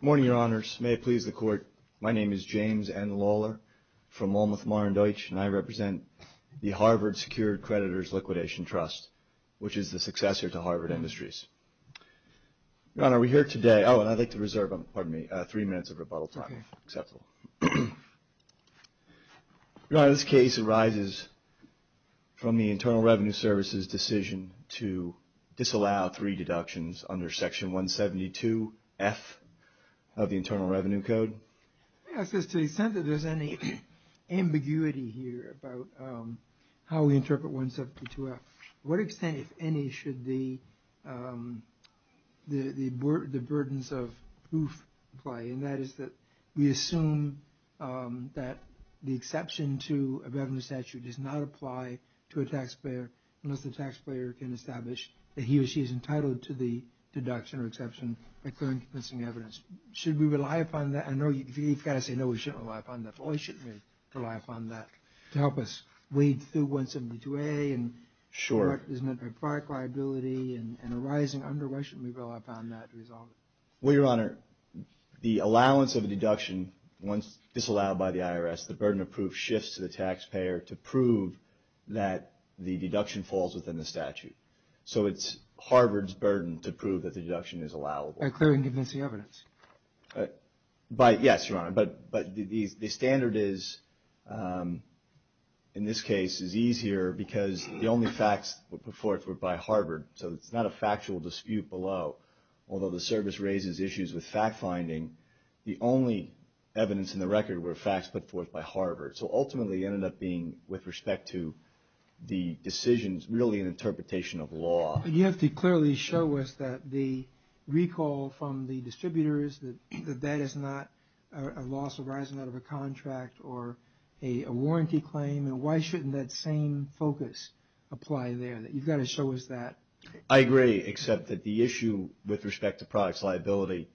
Good morning, Your Honors. May it please the Court, my name is James N. Lawler. I am from Ulmuth, Mar & Deutsch, and I represent the Harvard Secured Creditors Liquidation Trust, which is the successor to Harvard Industries. Your Honor, we're here today... Oh, and I'd like to reserve three minutes of rebuttal time, if that's okay. Your Honor, this case arises from the Internal Revenue Service's decision to disallow three deductions under Section 172F of the Internal Revenue Code. To the extent that there's any ambiguity here about how we interpret 172F, to what extent, if any, should the burdens of proof apply? And that is that we assume that the exception to a revenue statute does not apply to a taxpayer unless the taxpayer can establish that he or she is entitled to the deduction or exception by clear and convincing evidence. Should we rely upon that? I know you've got to say, no, we shouldn't rely upon that, but why shouldn't we rely upon that to help us wade through 172A and what is meant by product liability and arising under, why shouldn't we rely upon that to resolve it? Well, Your Honor, the allowance of a deduction, once disallowed by the IRS, the burden of proof shifts to the taxpayer to prove that the deduction falls within the statute. So it's Harvard's burden to prove that the deduction is allowable. By clear and convincing evidence? Yes, Your Honor, but the standard is, in this case, is easier because the only facts put forth were by Harvard, so it's not a factual dispute below. Although the service raises issues with fact-finding, the only evidence in the record were facts put forth by Harvard. So ultimately, it ended up being, with respect to the decisions, really an interpretation of law. You have to clearly show us that the recall from the distributors, that that is not a loss arising out of a contract or a warranty claim, and why shouldn't that same focus apply there? You've got to show us that. I agree, except that the issue with respect to products liability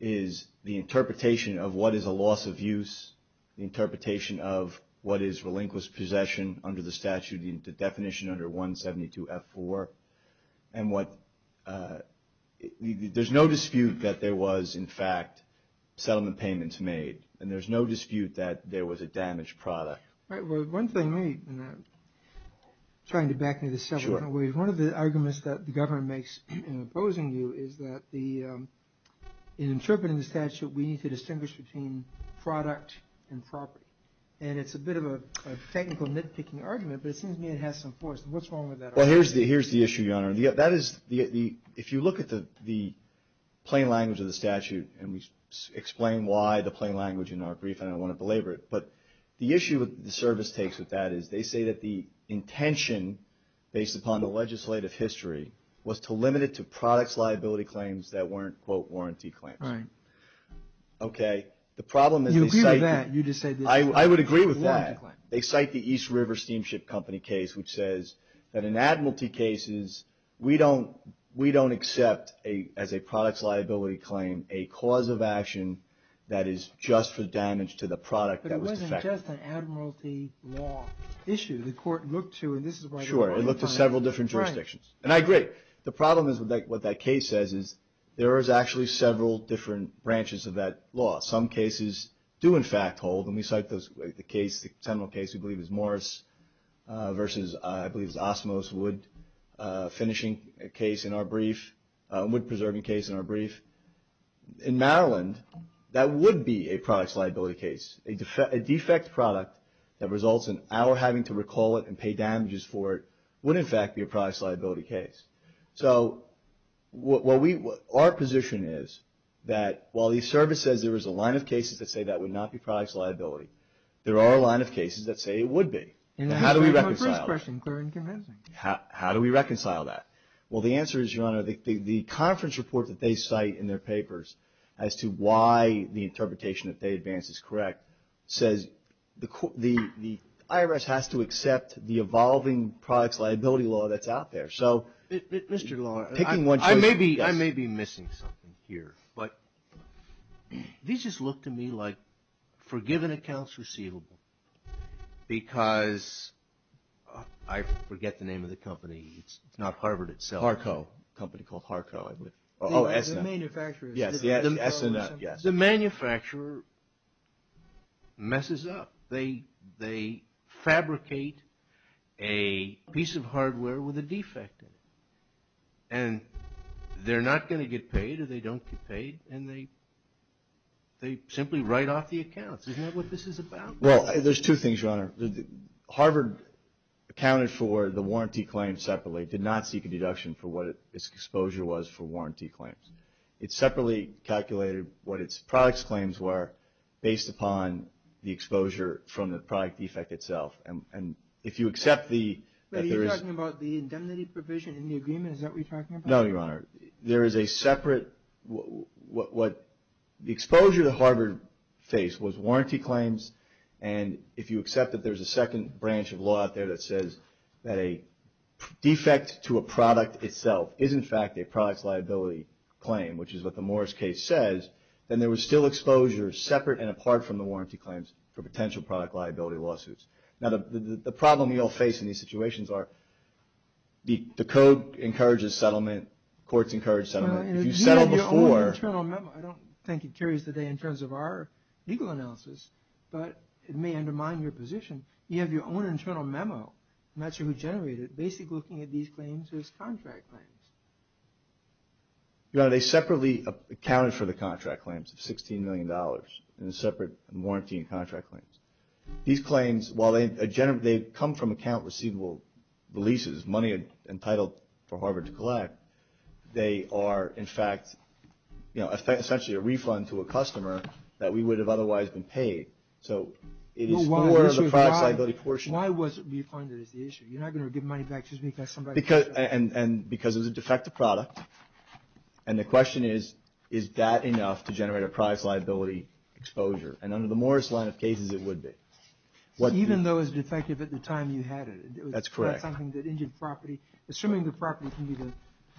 is the interpretation of what is a loss of use, the interpretation of what is relinquished possession under the statute, the definition under 172F4. There's no dispute that there was, in fact, settlement payments made, and there's no dispute that there was a damaged product. All right, well, one thing, trying to back me to several different ways, one of the arguments that the government makes in opposing you is that in interpreting the statute, we need to distinguish between product and property. And it's a bit of a technical nitpicking argument, but it seems to me it has some force. What's wrong with that argument? Well, here's the issue, Your Honor. If you look at the plain language of the statute, and we explain why the plain language in our brief, and I don't want to belabor it, but the issue the service takes with that is they say that the intention, based upon the legislative history, was to limit it to products liability claims that weren't, quote, warranty claims. Right. Okay, the problem is they cite... You agree with that, you just said that... I would agree with that. They cite the East River Steamship Company case, which says that in admiralty cases, we don't accept as a products liability claim a cause of action that is just for damage to the product that was defective. It's just an admiralty law issue. The court looked to, and this is why... Sure, it looked to several different jurisdictions. Right. And I agree. The problem is with what that case says is there is actually several different branches of that law. Some cases do, in fact, hold, and we cite the case, the criminal case we believe is Morris versus, I believe it's Osmos Wood, finishing a case in our brief, wood preserving case in our brief. In Maryland, that would be a products liability case. A defect product that results in our having to recall it and pay damages for it would, in fact, be a products liability case. So our position is that while the service says there is a line of cases that say that would not be products liability, there are a line of cases that say it would be. And how do we reconcile that? And that's my first question, clear and convincing. How do we reconcile that? Well, the answer is, Your Honor, the conference report that they cite in their papers as to why the interpretation that they advance is correct says the IRS has to accept the evolving products liability law that's out there. So... Mr. Law, I may be missing something here, but these just look to me like forgiven accounts receivable because, I forget the name of the company, it's not Harvard itself. Harco. A company called Harco. The manufacturer. Yes, yes, S&F, yes. The manufacturer messes up. They fabricate a piece of hardware with a defect in it. And they're not going to get paid, or they don't get paid, and they simply write off the accounts. Isn't that what this is about? Well, there's two things, Your Honor. Harvard accounted for the warranty claim separately, did not seek a deduction for what its exposure was for warranty claims. It separately calculated what its products claims were based upon the exposure from the product defect itself. And if you accept the... But are you talking about the indemnity provision in the agreement? Is that what you're talking about? No, Your Honor. There is a separate... The exposure that Harvard faced was warranty claims. And if you accept that there's a second branch of law out there that says that a defect to a product itself is, in fact, a product's liability claim, which is what the Morris case says, then there was still exposure separate and apart from the warranty claims for potential product liability lawsuits. Now, the problem we all face in these situations are the code encourages settlement, courts encourage settlement. If you settle before... But you have an internal memo. I don't think it carries the day in terms of our legal analysis, but it may undermine your position. You have your own internal memo. I'm not sure who generated it. Basically looking at these claims as contract claims. Your Honor, they separately accounted for the contract claims of $16 million in separate warranty and contract claims. These claims, while they come from account receivable leases, money entitled for Harvard to collect, they are, in fact, essentially a refund to a customer that we would have otherwise been paid. So it is more of a product's liability portion. Why was it refunded is the issue? You're not going to give money back just because somebody is... Because it was a defective product. And the question is, is that enough to generate a product's liability exposure? And under the Morris line of cases, it would be. Even though it was defective at the time you had it. That's correct. That's something that injured property. Assuming the property can be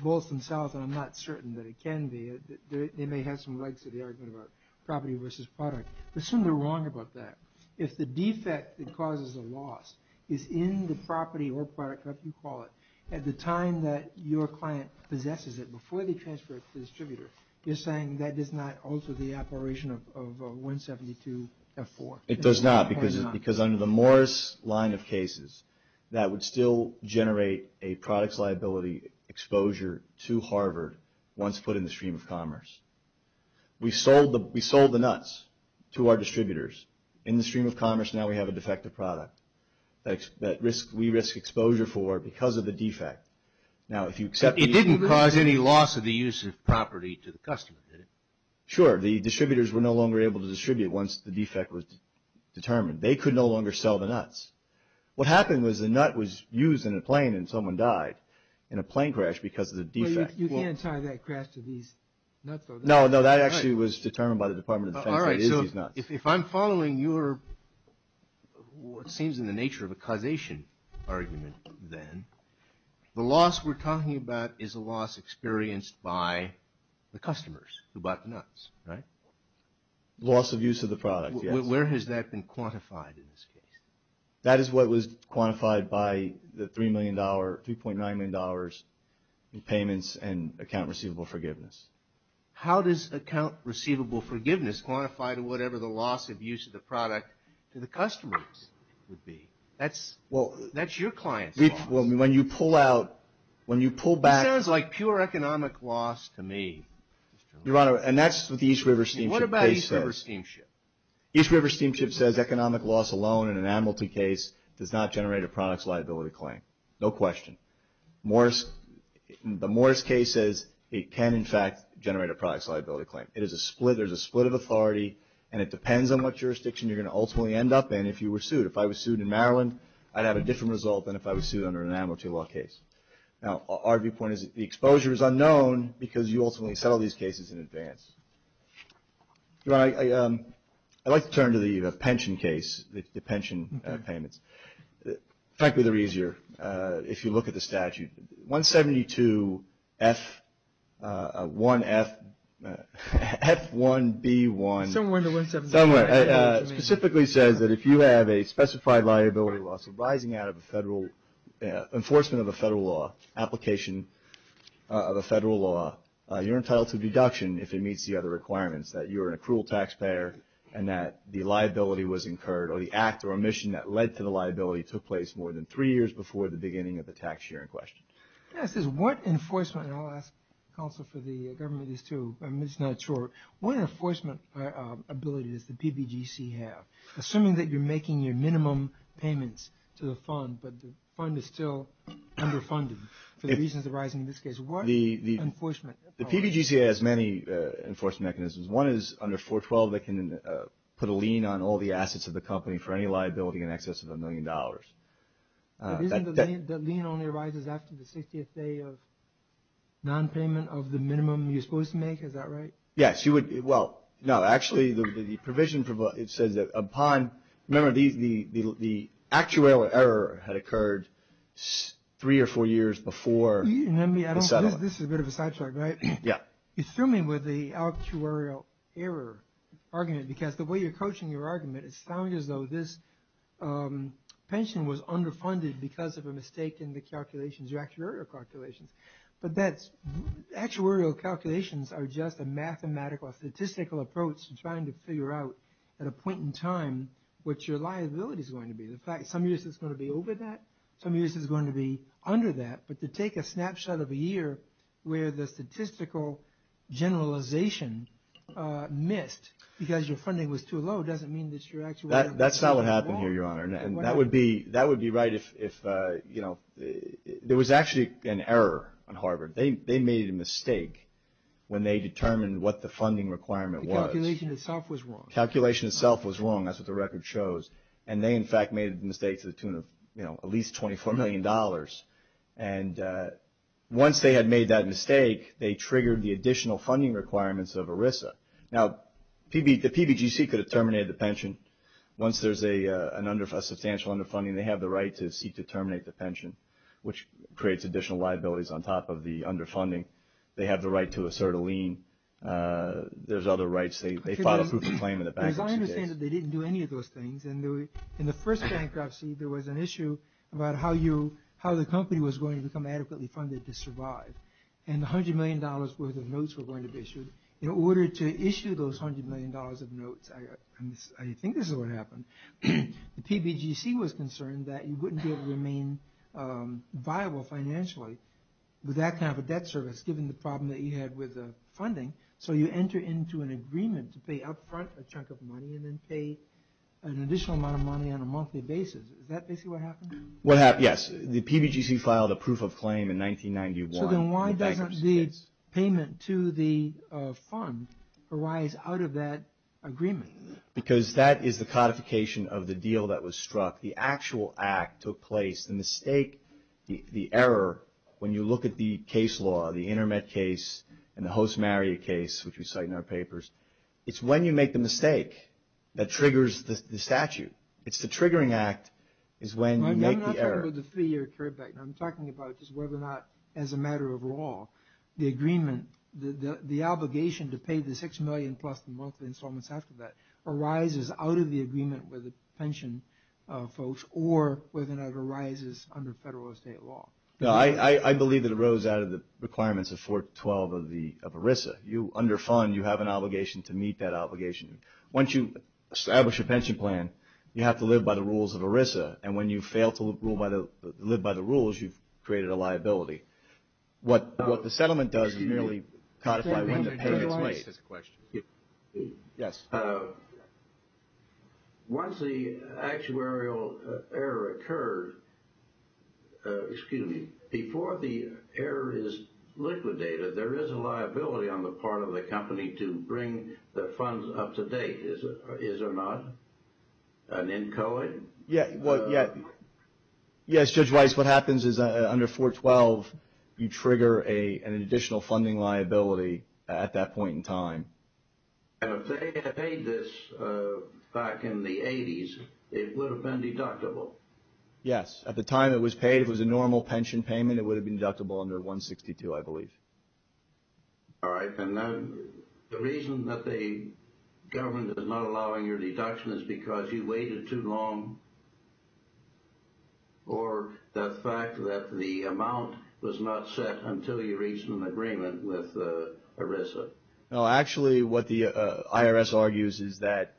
both themselves, and I'm not certain that it can be. They may have some legs to the argument about property versus product. Assume they're wrong about that. If the defect that causes a loss is in the property or product, whatever you call it, at the time that your client possesses it, before they transfer it to the distributor, you're saying that is not also the operation of 172F4? It does not, because under the Morris line of cases, that would still generate a product's liability exposure to Harvard once put in the stream of commerce. We sold the nuts to our distributors. In the stream of commerce, now we have a defective product that we risk exposure for because of the defect. It didn't cause any loss of the use of property to the customer, did it? Sure. The distributors were no longer able to distribute once the defect was determined. They could no longer sell the nuts. What happened was the nut was used in a plane and someone died in a plane crash because of the defect. You can't tie that crash to these nuts, though. No, that actually was determined by the Department of Defense that it is these nuts. If I'm following your, what seems in the nature of a causation argument then, the loss we're talking about is the loss of use of the product. Where has that been quantified in this case? That is what was quantified by the $3.9 million in payments and account receivable forgiveness. How does account receivable forgiveness quantify to whatever the loss of use of the product to the customers would be? That's your client's loss. When you pull out, when you pull back- It sounds like pure economic loss to me. Your Honor, and that's what the East River Steamship case says. What about East River Steamship? East River Steamship says economic loss alone in an amnesty case does not generate a products liability claim. No question. The Morris case says it can, in fact, generate a products liability claim. There's a split of authority and it depends on what jurisdiction you're going to ultimately end up in if you were sued. If I was sued in Maryland, I'd have a different result than if I was sued under an amnesty law case. Now our viewpoint is that the exposure is unknown because you ultimately settle these cases in advance. Your Honor, I'd like to turn to the pension case, the pension payments. Frankly, they're easier if you look at the statute. 172 F1B1- Somewhere in the 172- Somewhere. It specifically says that if you have a specified liability loss arising out of a federal, enforcement of a federal law, application of a federal law, you're entitled to a deduction if it meets the other requirements, that you're an accrual taxpayer and that the liability was incurred or the act or omission that led to the liability took place more than three years before the beginning of the tax year in question. Yeah, it says what enforcement, and I'll ask counsel for the government is to, I'm just assuming that you're making your minimum payments to the fund, but the fund is still underfunded for the reasons arising in this case, what enforcement? The PBGC has many enforcement mechanisms. One is under 412, they can put a lien on all the assets of the company for any liability in excess of a million dollars. But isn't the lien only arises after the 60th day of non-payment of the minimum you're supposed to make? Is that right? Yes, you would. Well, no, actually the provision, it says that upon, remember the actuarial error had occurred three or four years before the settlement. This is a bit of a sidetrack, right? Yeah. You threw me with the actuarial error argument because the way you're coaching your argument, it sounds as though this pension was underfunded because of a mistake in the calculations, your actuarial calculations. But that's, actuarial calculations are just a mathematical, a statistical approach to trying to figure out at a point in time what your liability is going to be. In fact, some years it's going to be over that, some years it's going to be under that. But to take a snapshot of a year where the statistical generalization missed because your funding was too low doesn't mean that your actuarial error is too low. That's not what happened here, Your Honor. And that would be right if, there was actually an error on Harvard. They made a mistake when they determined what the funding requirement was. The calculation itself was wrong. Calculation itself was wrong. That's what the record shows. And they in fact made a mistake to the tune of at least $24 million. And once they had made that mistake, they triggered the additional funding requirements of ERISA. Now, the PBGC could have terminated the pension. Once there's a substantial underfunding, they have the right to seek to terminate the pension, which creates additional liabilities on top of the underfunding. They have the right to assert a lien. There's other rights. They filed a proof of claim in the bankruptcy case. As I understand it, they didn't do any of those things. In the first bankruptcy, there was an issue about how the company was going to become adequately funded to survive. And $100 million worth of notes were going to be issued. In order to issue those $100 million of notes, I think this is what happened, the PBGC was concerned that you wouldn't be able to remain viable financially with that kind of a debt service given the problem that you had with the funding. So you enter into an agreement to pay up front a chunk of money and then pay an additional amount of money on a monthly basis. Is that basically what happened? What happened, yes. The PBGC filed a proof of claim in 1991. So then why doesn't the payment to the fund arise out of that agreement? Because that is the codification of the deal that was struck. The actual act took place, the mistake, the error, when you look at the case law, the InterMet case and the Host-Marriott case, which we cite in our papers, it's when you make the mistake that triggers the statute. I'm talking about just whether or not, as a matter of law, the agreement, the obligation to pay the $6 million plus the monthly installments after that arises out of the agreement with the pension folks or whether or not it arises under federal or state law. I believe that it arose out of the requirements of 412 of ERISA. Under fund, you have an obligation to meet that obligation. Once you establish a pension plan, you have to live by the rules of ERISA and when you fail to live by the rules, you've created a liability. What the settlement does is merely codify when the payment's made. Once the actuarial error occurred, before the error is liquidated, there is a liability on the part of the company to bring the funds up to date. Is there not? An inchoate? Yes, Judge Weiss, what happens is under 412, you trigger an additional funding liability at that point in time. If they had paid this back in the 80s, it would have been deductible? Yes. At the time it was paid, it was a normal pension payment, it would have been deductible under 162, I believe. All right. The reason that the government is not allowing your deduction is because you waited too long or the fact that the amount was not set until you reached an agreement with ERISA? No, actually what the IRS argues is that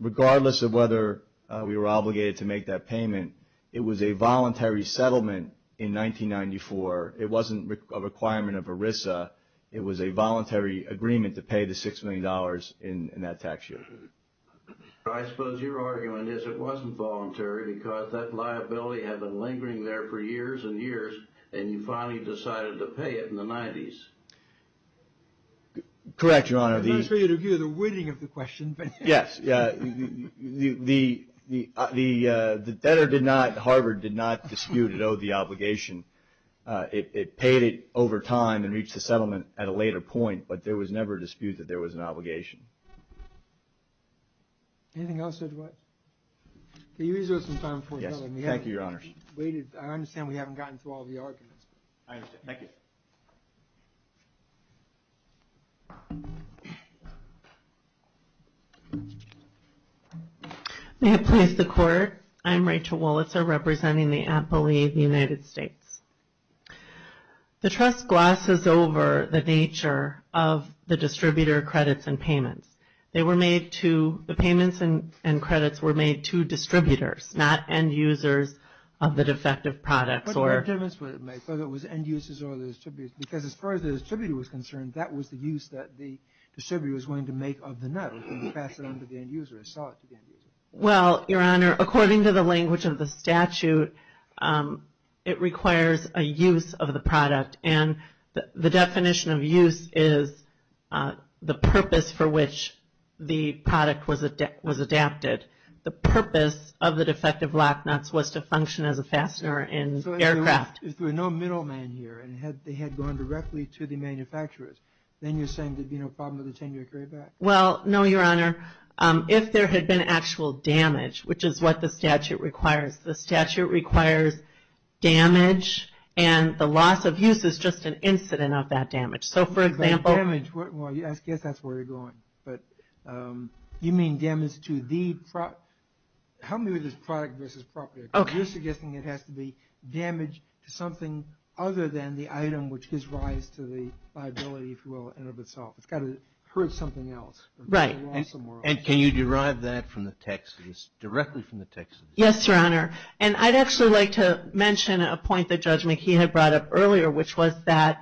regardless of whether we were obligated to make that payment, it was a voluntary settlement in 1994. It wasn't a requirement of ERISA. It was a voluntary agreement to pay the $6 million in that tax year. I suppose your argument is it wasn't voluntary because that liability had been lingering there for years and years and you finally decided to pay it in the 90s. Correct, Your Honor. I'm not sure you'd agree with the wording of the question, but yes, the debtor did not, Harvard did not dispute it owed the obligation. It paid it over time and reached the settlement at a later point, but there was never a dispute that there was an obligation. Anything else, Judge White? Can you reserve some time for me? Yes. Thank you, Your Honors. I understand we haven't gotten through all the arguments. I understand. Thank you. May it please the Court. I'm Rachel Wollitzer representing the Appellee of the United States. The trust glosses over the nature of the distributor credits and payments. They were made to, the payments and credits were made to distributors, not end users of the defective products. What difference would it make whether it was end users or the distributors? Because as far as the distributor was concerned, that was the use that the distributor was going to make of the note and pass it on to the end user, or sell it to the end user. Well, Your Honor, according to the language of the statute, it requires a use of the product. And the definition of use is the purpose for which the product was adapted. The purpose of the defective lock nuts was to function as a fastener in aircraft. So if there were no middlemen here and they had gone directly to the manufacturers, then you're saying there'd be no problem with the 10-year carryback? Well, no, Your Honor. If there had been actual damage, which is what the statute requires. The statute requires damage, and the loss of use is just an incident of that damage. So, for example. Damage, well, I guess that's where you're going, but you mean damage to the, help me with this product versus property, because you're suggesting it has to be damage to something other than the item which gives rise to the liability, if you will, and of itself. It's got to hurt something else. Right. And can you derive that from the text, directly from the text of the statute? Yes, Your Honor. And I'd actually like to mention a point that Judge McKee had brought up earlier, which was that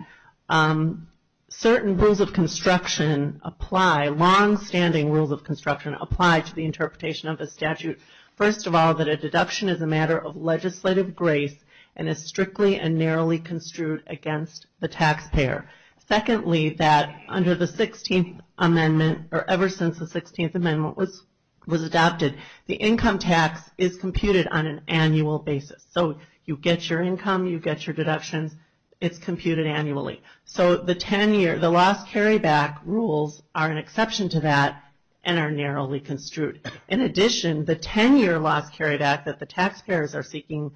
certain rules of construction apply, long-standing rules of construction apply to the interpretation of the statute. First of all, that a deduction is a matter of legislative grace and is strictly and narrowly construed against the taxpayer. Secondly, that under the 16th Amendment, or ever since the 16th Amendment was adopted, the income tax is computed on an annual basis. So you get your income, you get your deductions, it's computed annually. So the 10-year, the loss carryback rules are an exception to that and are narrowly construed. In addition, the 10-year loss carryback that the taxpayers are seeking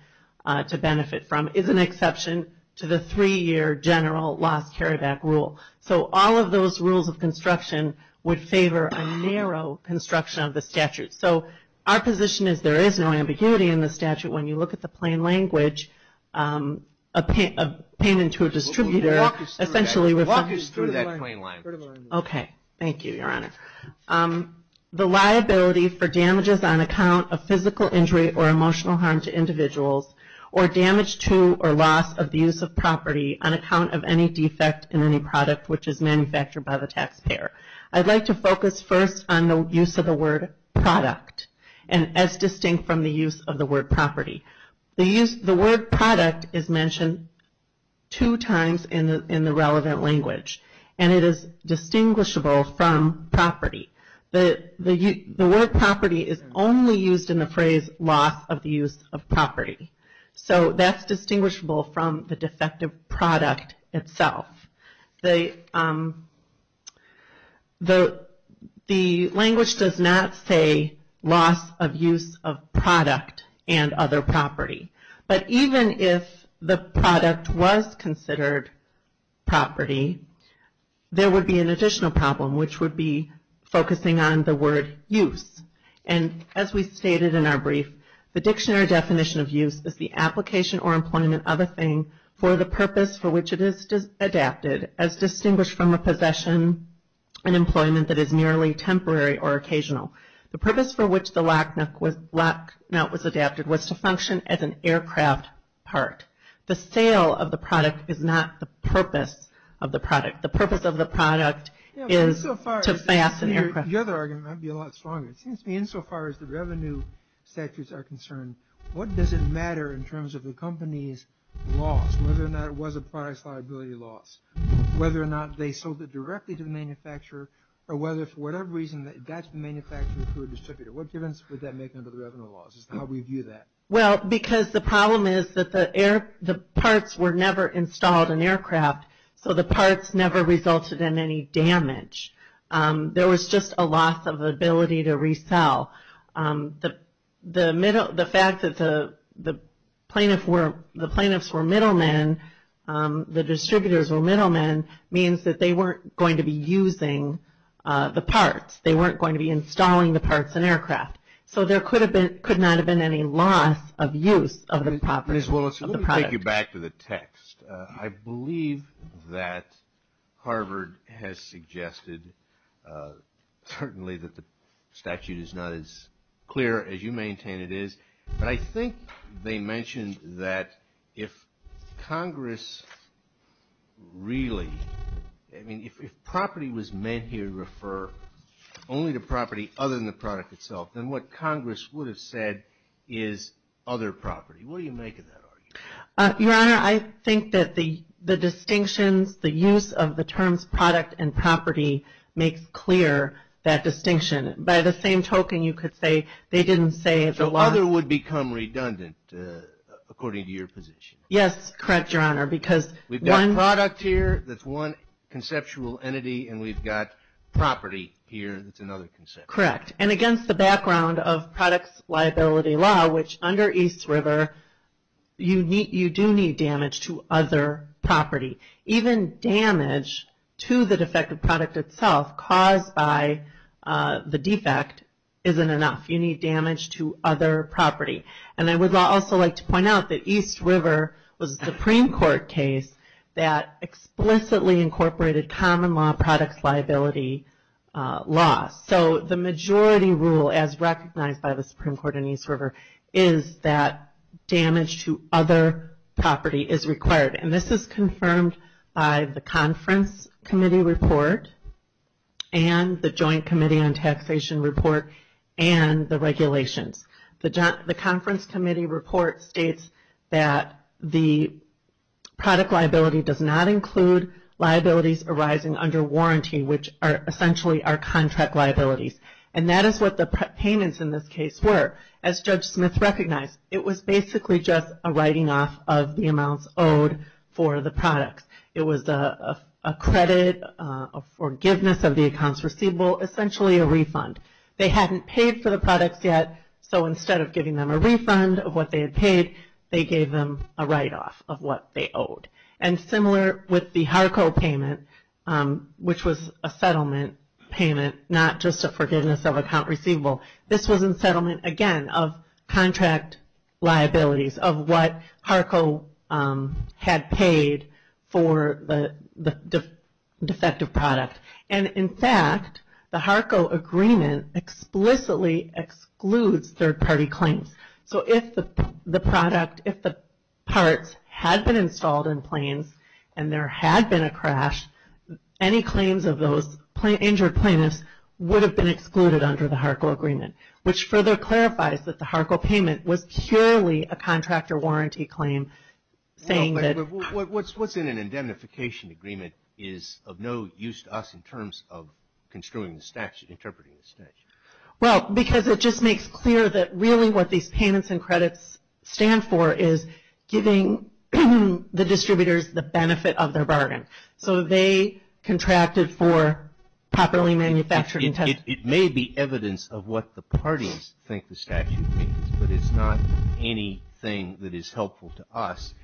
to benefit from is an exception to the three-year general loss carryback rule. So all of those rules of construction would favor a narrow construction of the statute. So our position is there is no ambiguity in the statute. When you look at the plain language, a payment to a distributor essentially refers to... Walk us through that plain language. Okay. Thank you, Your Honor. The liability for damages on account of physical injury or emotional harm to individuals or damage to or loss of the use of property on account of any defect in any product which is manufactured by the taxpayer. I'd like to focus first on the use of the word product and as distinct from the use of the word property. The word product is mentioned two times in the relevant language and it is distinguishable from property. The word property is only used in the phrase loss of the use of property. So that's distinguishable from the defective product itself. The language does not say loss of use of product and other property. But even if the product was considered property, there would be an additional problem which would be focusing on the word use. And as we stated in our brief, the dictionary definition of use is the application or employment of a thing for the purpose for which it is adapted as distinguished from a possession and employment that is merely temporary or occasional. The purpose for which the lock nut was adapted was to function as an aircraft part. The sale of the product is not the purpose of the product. The purpose of the product is to fast an aircraft. The other argument might be a lot stronger. It seems to me insofar as the revenue sectors are concerned, what does it matter in terms of the company's loss? Whether or not it was a product's liability loss. Whether or not they sold it directly to the manufacturer or whether for whatever reason that got manufactured through a distributor. What difference would that make under the revenue laws? How do we view that? Well, because the problem is that the parts were never installed in aircraft, so the parts never resulted in any damage. There was just a loss of ability to resell. The fact that the plaintiffs were middlemen, the distributors were middlemen, means that they weren't going to be using the parts. They weren't going to be installing the parts in aircraft. So there could not have been any loss of use of the property of the product. Ms. Willis, let me take you back to the text. I believe that Harvard has suggested certainly that the statute is not as clear as you maintain it is, but I think they mentioned that if Congress really, I mean, if property was meant here to refer only to property other than the product itself, then what Congress would have said is other property. What do you make of that argument? Your Honor, I think that the distinctions, the use of the terms product and property makes clear that distinction. By the same token, you could say they didn't say it's a loss. So other would become redundant according to your position? Yes, correct, Your Honor, because one- We've got product here that's one conceptual entity, and we've got property here that's another conceptual entity. Correct. And against the background of products liability law, which under East River, you do need damage to other property. Even damage to the defective product itself caused by the defect isn't enough. You need damage to other property. And I would also like to point out that East River was a Supreme Court case that explicitly incorporated common law products liability law. So the majority rule, as recognized by the Supreme Court in East River, is that damage to other property is required. And this is confirmed by the Conference Committee Report and the Joint Committee on Taxation Report and the regulations. The Conference Committee Report states that the product liability does not include liabilities arising under warranty, which are essentially are contract liabilities. And that is what the payments in this case were. As Judge Smith recognized, it was basically just a writing off of the amounts owed for the products. It was a credit, a forgiveness of the accounts receivable, essentially a refund. They hadn't paid for the products yet, so instead of giving them a refund of what they And similar with the HARCO payment, which was a settlement payment, not just a forgiveness of account receivable. This was in settlement, again, of contract liabilities, of what HARCO had paid for the defective product. And in fact, the HARCO agreement explicitly excludes third-party claims. So if the product, if the parts had been installed in planes, and there had been a crash, any claims of those injured plaintiffs would have been excluded under the HARCO agreement, which further clarifies that the HARCO payment was purely a contractor warranty claim saying that What's in an indemnification agreement is of no use to us in terms of construing the statute, interpreting the statute. Well, because it just makes clear that really what these payments and credits stand for is giving the distributors the benefit of their bargain. So they contracted for properly manufactured It may be evidence of what the parties think the statute means, but it's not anything that is helpful to us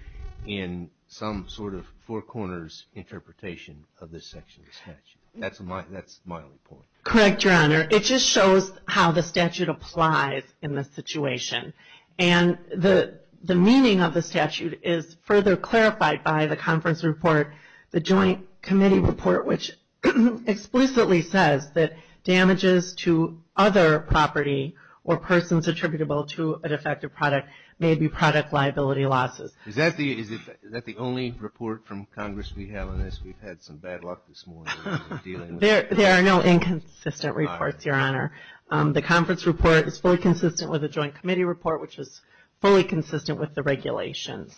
in some sort of four corners interpretation of this section of the statute. That's my report. Correct, Your Honor. It just shows how the statute applies in this situation. And the meaning of the statute is further clarified by the conference report, the joint committee report, which explicitly says that damages to other property or persons attributable to a defective product may be product liability losses. Is that the only report from Congress we have on this? We've had some bad luck this morning. There are no inconsistent reports, Your Honor. The conference report is fully consistent with the joint committee report, which is fully consistent with the regulations.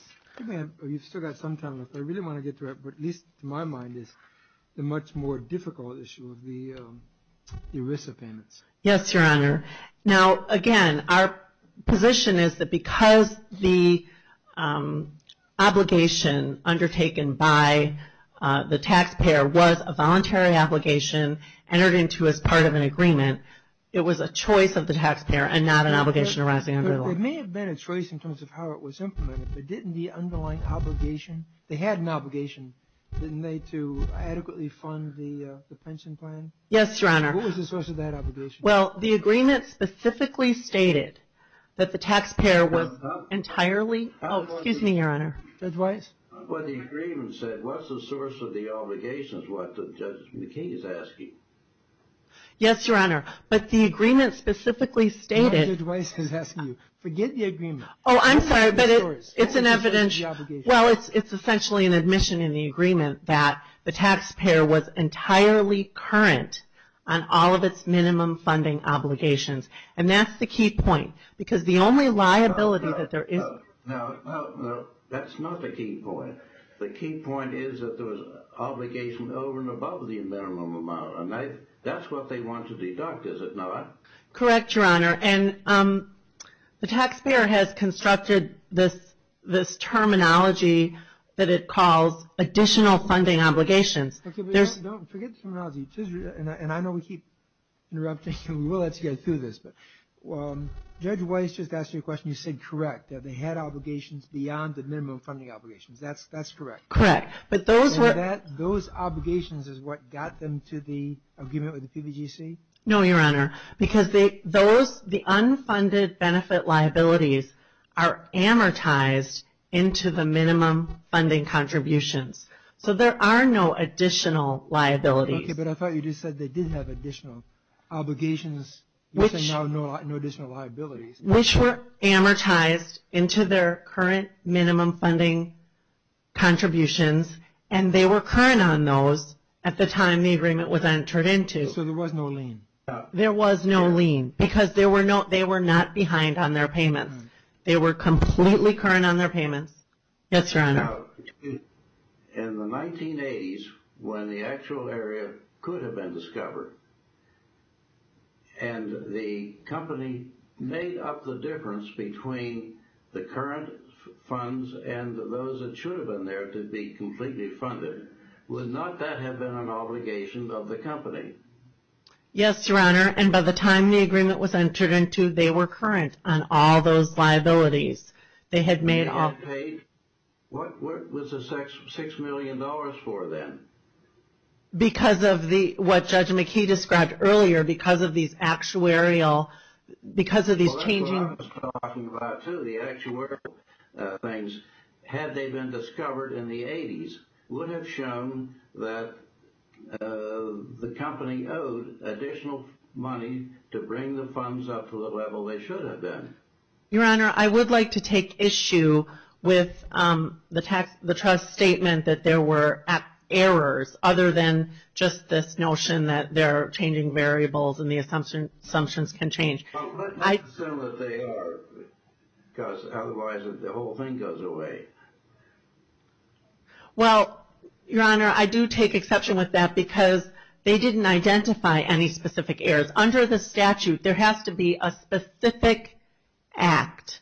You've still got some time left. I really want to get to it, but at least to my mind, it's the much more difficult issue of the ERISA payments. Yes, Your Honor. Now, again, our position is that because the obligation undertaken by the taxpayer was a voluntary obligation entered into as part of an agreement, it was a choice of the taxpayer and not an obligation arising under the law. It may have been a choice in terms of how it was implemented, but didn't the underlying obligation, they had an obligation, didn't they, to adequately fund the pension plan? Yes, Your Honor. What was the source of that obligation? Well, the agreement specifically stated that the taxpayer was entirely... Oh, excuse me, Your Honor. Judge Weiss? Well, the agreement said, what's the source of the obligations, is what Judge McKee is asking. Yes, Your Honor. But the agreement specifically stated... No, Judge Weiss is asking you. Forget the agreement. Oh, I'm sorry, but it's an evidential... Well, it's essentially an admission in the agreement that the taxpayer was entirely current on all of its minimum funding obligations, and that's the key point. Because the only liability that there is... No, that's not the key point. The key point is that there was obligation over and above the minimum amount, and that's what they want to deduct, is it not? Correct, Your Honor. And the taxpayer has constructed this terminology that it calls additional funding obligations. Okay, but don't forget the terminology. And I know we keep interrupting, and we will let you guys through this, but Judge Weiss just asked you a question. You said correct. They had obligations beyond the minimum funding obligations. That's correct. Correct. But those were... And those obligations is what got them to the agreement with the PVGC? No, Your Honor. Because the unfunded benefit liabilities are amortized into the minimum funding contributions. So, there are no additional liabilities. Okay, but I thought you just said they did have additional obligations, which are now no additional liabilities. Which were amortized into their current minimum funding contributions, and they were current on those at the time the agreement was entered into. So, there was no lien? There was no lien, because they were not behind on their payments. They were completely current on their payments. Yes, Your Honor. Now, in the 1980s, when the actual area could have been discovered, and the company made up the difference between the current funds and those that should have been there to be completely funded, would not that have been an obligation of the company? Yes, Your Honor. And by the time the agreement was entered into, they were current on all those liabilities. They had made all... They had paid, what was the $6 million for then? Because of the, what Judge McKee described earlier, because of these actuarial, because of these changing... Well, that's what I was talking about too, the actuarial things. Had they been discovered in the 80s, would have shown that the company owed additional money to bring the funds up to the level they should have been. Your Honor, I would like to take issue with the trust statement that there were errors, other than just this notion that they're changing variables and the assumptions can change. Well, let's assume that they are, because otherwise the whole thing goes away. Well, Your Honor, I do take exception with that, because they didn't identify any specific errors. Under the statute, there has to be a specific act,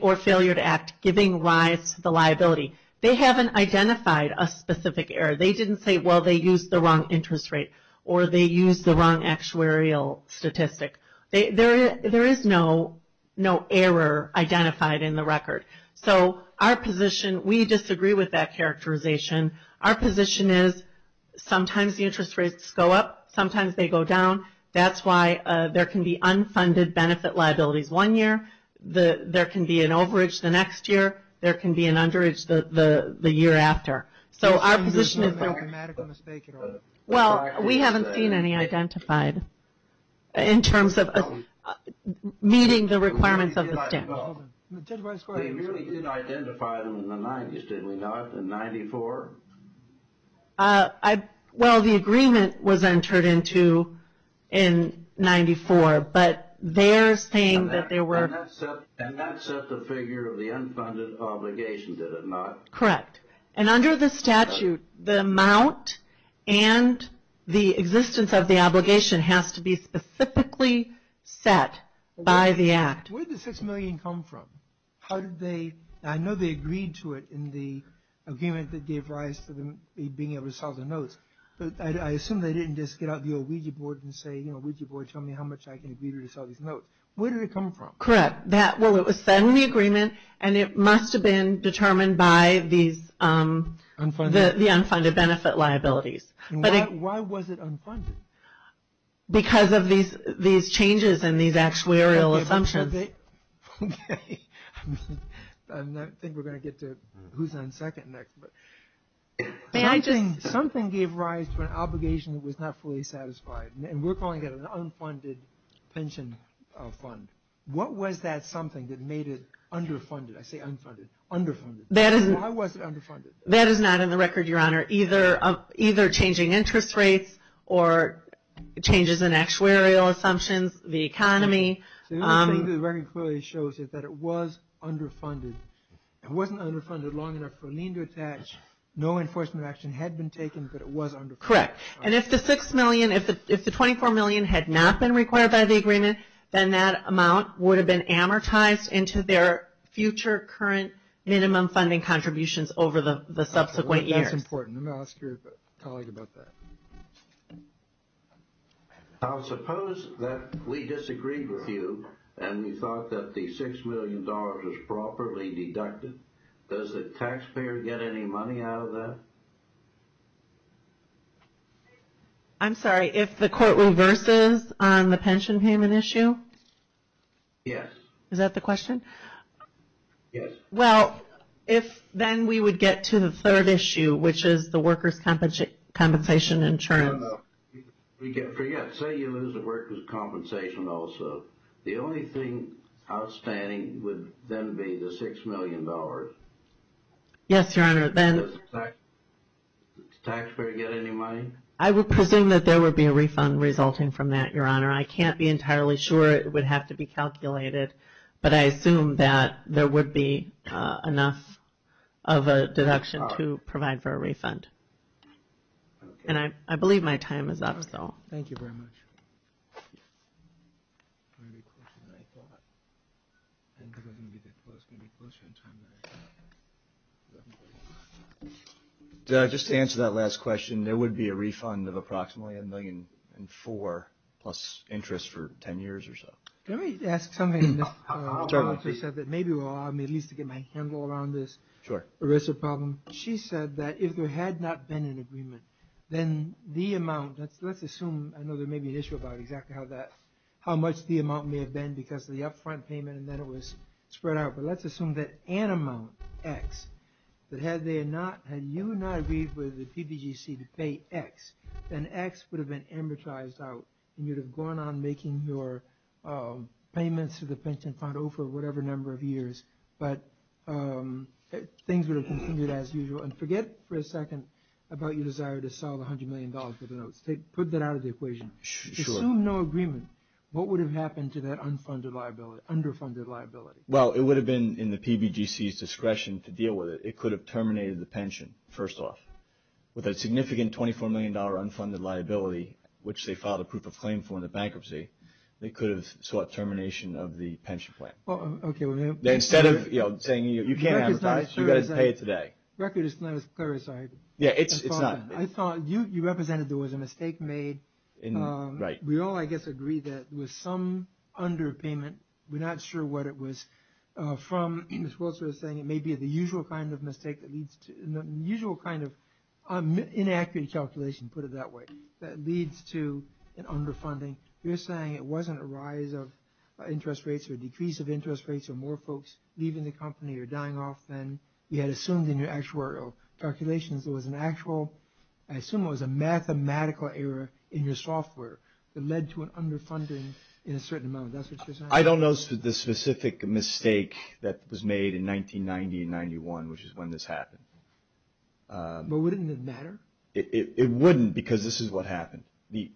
or failure to act, giving rise to the liability. They haven't identified a specific error. They didn't say, well, they used the wrong interest rate, or they used the wrong actuarial statistic. There is no error identified in the record. So, our position, we disagree with that characterization. Our position is, sometimes the interest rates go up, sometimes they go down. That's why there can be unfunded benefit liabilities one year. There can be an overage the next year. There can be an underage the year after. So, our position is... It's not a grammatical mistake at all. Well, we haven't seen any identified in terms of meeting the requirements of the statute. Well, they really did identify them in the 90s, did we not? In 94? Well, the agreement was entered into in 94, but they're saying that there were... And that set the figure of the unfunded obligation, did it not? Correct. And under the statute, the amount and the existence of the obligation has to be specifically set by the act. Where did the $6 million come from? How did they... I know they agreed to it in the agreement that gave rise to them being able to sell the notes, but I assume they didn't just get out the old Ouija board and say, you know, Ouija board, tell me how much I can agree to sell these notes. Where did it come from? Correct. Well, it was said in the agreement, and it must have been determined by these... The unfunded benefit liabilities. Why was it unfunded? Because of these changes in these actuarial assumptions. Okay. I think we're going to get to who's on second next. May I just... Something gave rise to an obligation that was not fully satisfied, and we're calling it an unfunded pension fund. What was that something that made it underfunded? I say unfunded. Why was it underfunded? That is not in the record, Your Honor. Either changing interest rates or changes in actuarial assumptions, the economy. The record clearly shows that it was underfunded. It wasn't underfunded long enough for a lien to attach. No enforcement action had been taken, but it was underfunded. Correct. And if the $6 million, if the $24 million had not been required by the agreement, then that amount would have been amortized into their future current minimum funding contributions over the subsequent years. That's important. I'm going to ask your colleague about that. Now, suppose that we disagreed with you, and we thought that the $6 million was properly deducted. Does the taxpayer get any money out of that? I'm sorry. If the court reverses on the pension payment issue? Yes. Is that the question? Yes. Well, if then we would get to the third issue, which is the workers' compensation insurance. Forget. Say you lose the workers' compensation also. The only thing outstanding would then be the $6 million. Yes, Your Honor. Does the taxpayer get any money? I would presume that there would be a refund resulting from that, Your Honor. I can't be entirely sure. It would have to be calculated. But I assume that there would be enough of a deduction to provide for a refund. And I believe my time is up, so. Thank you very much. Just to answer that last question, there would be a refund of approximately $1.4 million plus interest for 10 years or so. Can I ask something? Maybe it will allow me at least to get my handle around this ERISA problem. She said that if there had not been an agreement, then the amount, let's assume, I know there may be an issue about exactly how much the amount may have been because of the upfront payment and then it was spread out. But let's assume that an amount, X, that had you not agreed with the PPGC to pay X, then X would have been amortized out. And you would have gone on making your payments to the pension fund over whatever number of years. But things would have continued as usual. And forget for a second about your desire to sell $100 million for the notes. Put that out of the equation. Assume no agreement. What would have happened to that unfunded liability, underfunded liability? Well, it would have been in the PBGC's discretion to deal with it. It could have terminated the pension, first off, with a significant $24 million unfunded liability, which they filed a proof of claim for in the bankruptcy. They could have sought termination of the pension plan. Well, okay. Instead of saying, you can't amortize, you've got to pay it today. The record is not as clear as I thought. Yeah, it's not. I thought you represented there was a mistake made. We all, I guess, agree that there was some underpayment. We're not sure what it was. From, Ms. Wilson was saying, it may be the usual kind of mistake that leads to, the usual kind of inaccurate calculation, put it that way, that leads to an underfunding. You're saying it wasn't a rise of interest rates or decrease of interest rates or more folks leaving the company or dying off than you had assumed in your actual calculations. It was an actual, I assume it was a mathematical error in your software that led to an underfunding in a certain amount. That's what you're saying? I don't know the specific mistake that was made in 1990 and 91, which is when this happened. But wouldn't it matter? It wouldn't because this is what happened. The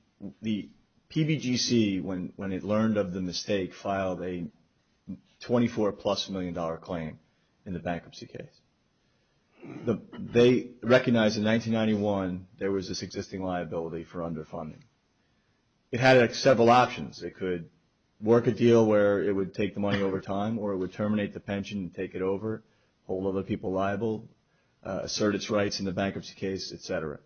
PBGC, when it learned of the mistake, filed a $24 plus million claim in the bankruptcy case. They recognized in 1991 there was this existing liability for underfunding. It had several options. It could work a deal where it would take the money over time or it would terminate the pension and take it over, hold other people liable, assert its rights in the bankruptcy case, et cetera.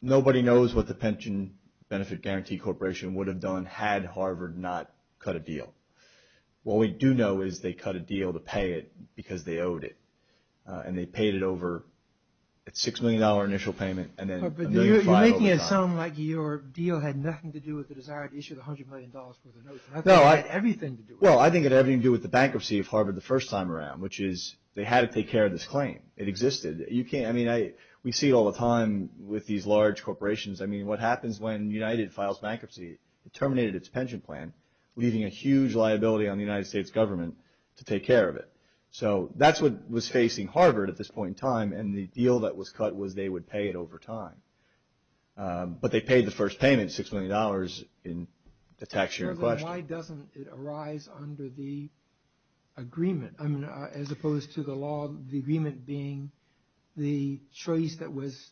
Nobody knows what the Pension Benefit Guarantee Corporation would have done had Harvard not cut a deal. What we do know is they cut a deal to pay it because they owed it, and they paid it over at $6 million initial payment and then $1.5 million over time. You're making it sound like your deal had nothing to do with the desire to issue the $100 million worth of notes. I think it had everything to do with it. Well, I think it had everything to do with the bankruptcy of Harvard the first time around, which is they had to take care of this claim. It existed. I mean, we see it all the time with these large corporations. I mean, what happens when United files bankruptcy? It terminated its pension plan, leaving a huge liability on the United States government to take care of it. So that's what was facing Harvard at this point in time, and the deal that was cut was they would pay it over time. But they paid the first payment, $6 million, in the tax year in question. Why doesn't it arise under the agreement? I mean, as opposed to the law, the agreement being the choice that was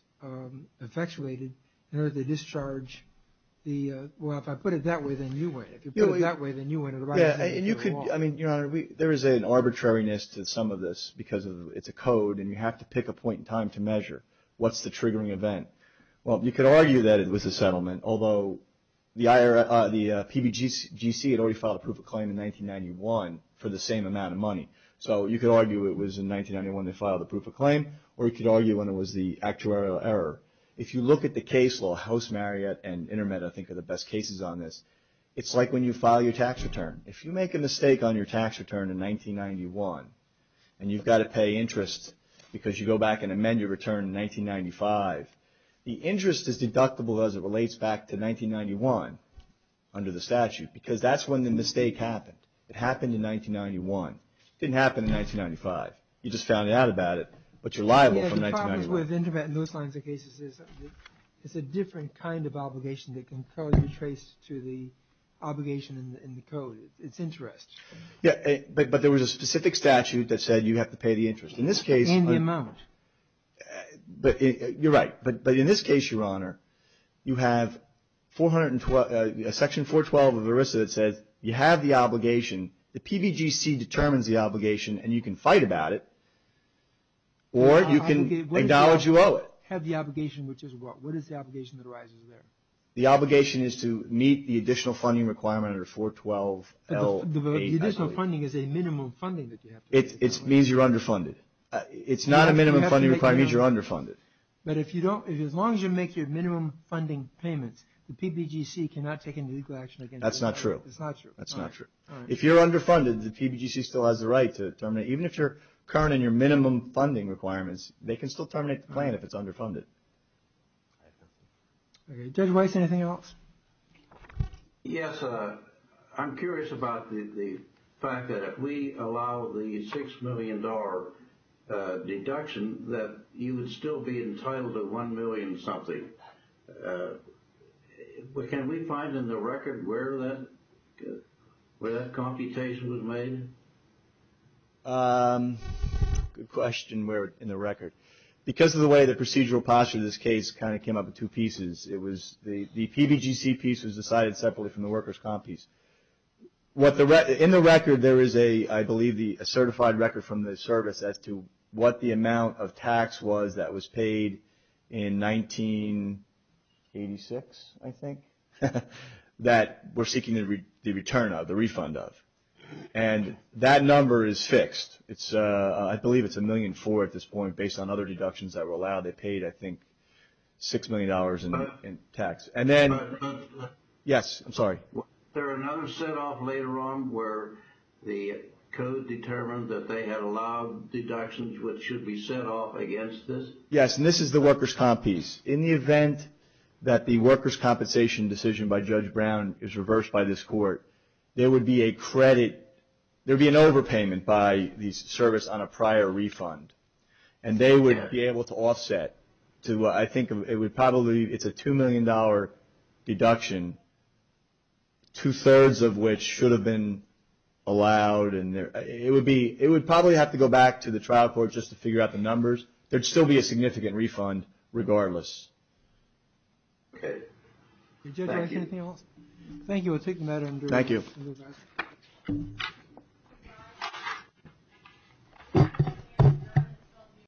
effectuated in order to discharge the – well, if I put it that way, then you win. If you put it that way, then you win. Yeah, and you could – I mean, Your Honor, there is an arbitrariness to some of this because it's a code and you have to pick a point in time to measure. What's the triggering event? Well, you could argue that it was a settlement, although the PBGC had already filed a proof of claim in 1991 for the same amount of money. So you could argue it was in 1991 they filed the proof of claim, or you could argue when it was the actuarial error. If you look at the case law, House, Marriott, and InterMed, I think, are the best cases on this. It's like when you file your tax return. If you make a mistake on your tax return in 1991 and you've got to pay interest because you go back and amend your return in 1995, the interest is deductible as it relates back to 1991 under the statute because that's when the mistake happened. It happened in 1991. It didn't happen in 1995. You just found out about it, but you're liable from 1991. Yeah, the problem with InterMed in those kinds of cases is it's a different kind of obligation that can currently be traced to the obligation in the code. It's interest. Yeah, but there was a specific statute that said you have to pay the interest. In this case. In the amount. You're right, but in this case, Your Honor, you have Section 412 of ERISA that says you have the obligation. The PBGC determines the obligation, and you can fight about it, or you can acknowledge you owe it. Have the obligation, which is what? What is the obligation that arises there? The obligation is to meet the additional funding requirement under 412L8. The additional funding is a minimum funding that you have to pay. It means you're underfunded. It's not a minimum funding requirement. It means you're underfunded. But as long as you make your minimum funding payments, the PBGC cannot take any legal action against you. That's not true. It's not true. That's not true. If you're underfunded, the PBGC still has the right to terminate. Even if you're current in your minimum funding requirements, they can still terminate the plan if it's underfunded. Judge Weiss, anything else? Yes. I'm curious about the fact that if we allow the $6 million deduction, that you would still be entitled to $1 million something. Can we find in the record where that computation was made? Good question, where in the record. Because of the way the procedural posture of this case kind of came up in two pieces, the PBGC piece was decided separately from the workers' comp piece. In the record, there is, I believe, a certified record from the service as to what the amount of tax was that was paid in 1986, I think, that we're seeking the return of, the refund of. And that number is fixed. I believe it's $1.4 million at this point, based on other deductions that were allowed. They paid, I think, $6 million in tax. And then, yes, I'm sorry. Was there another set off later on where the code determined that they had allowed deductions which should be set off against this? Yes, and this is the workers' comp piece. In the event that the workers' compensation decision by Judge Brown is reversed by this court, there would be a credit, there would be an overpayment by the service on a prior refund. And they would be able to offset to, I think, it would probably, it's a $2 million deduction, two-thirds of which should have been allowed. It would probably have to go back to the trial court just to figure out the numbers. There would still be a significant refund, regardless. Okay. Thank you. We'll take the matter under review. Thank you. Thank you.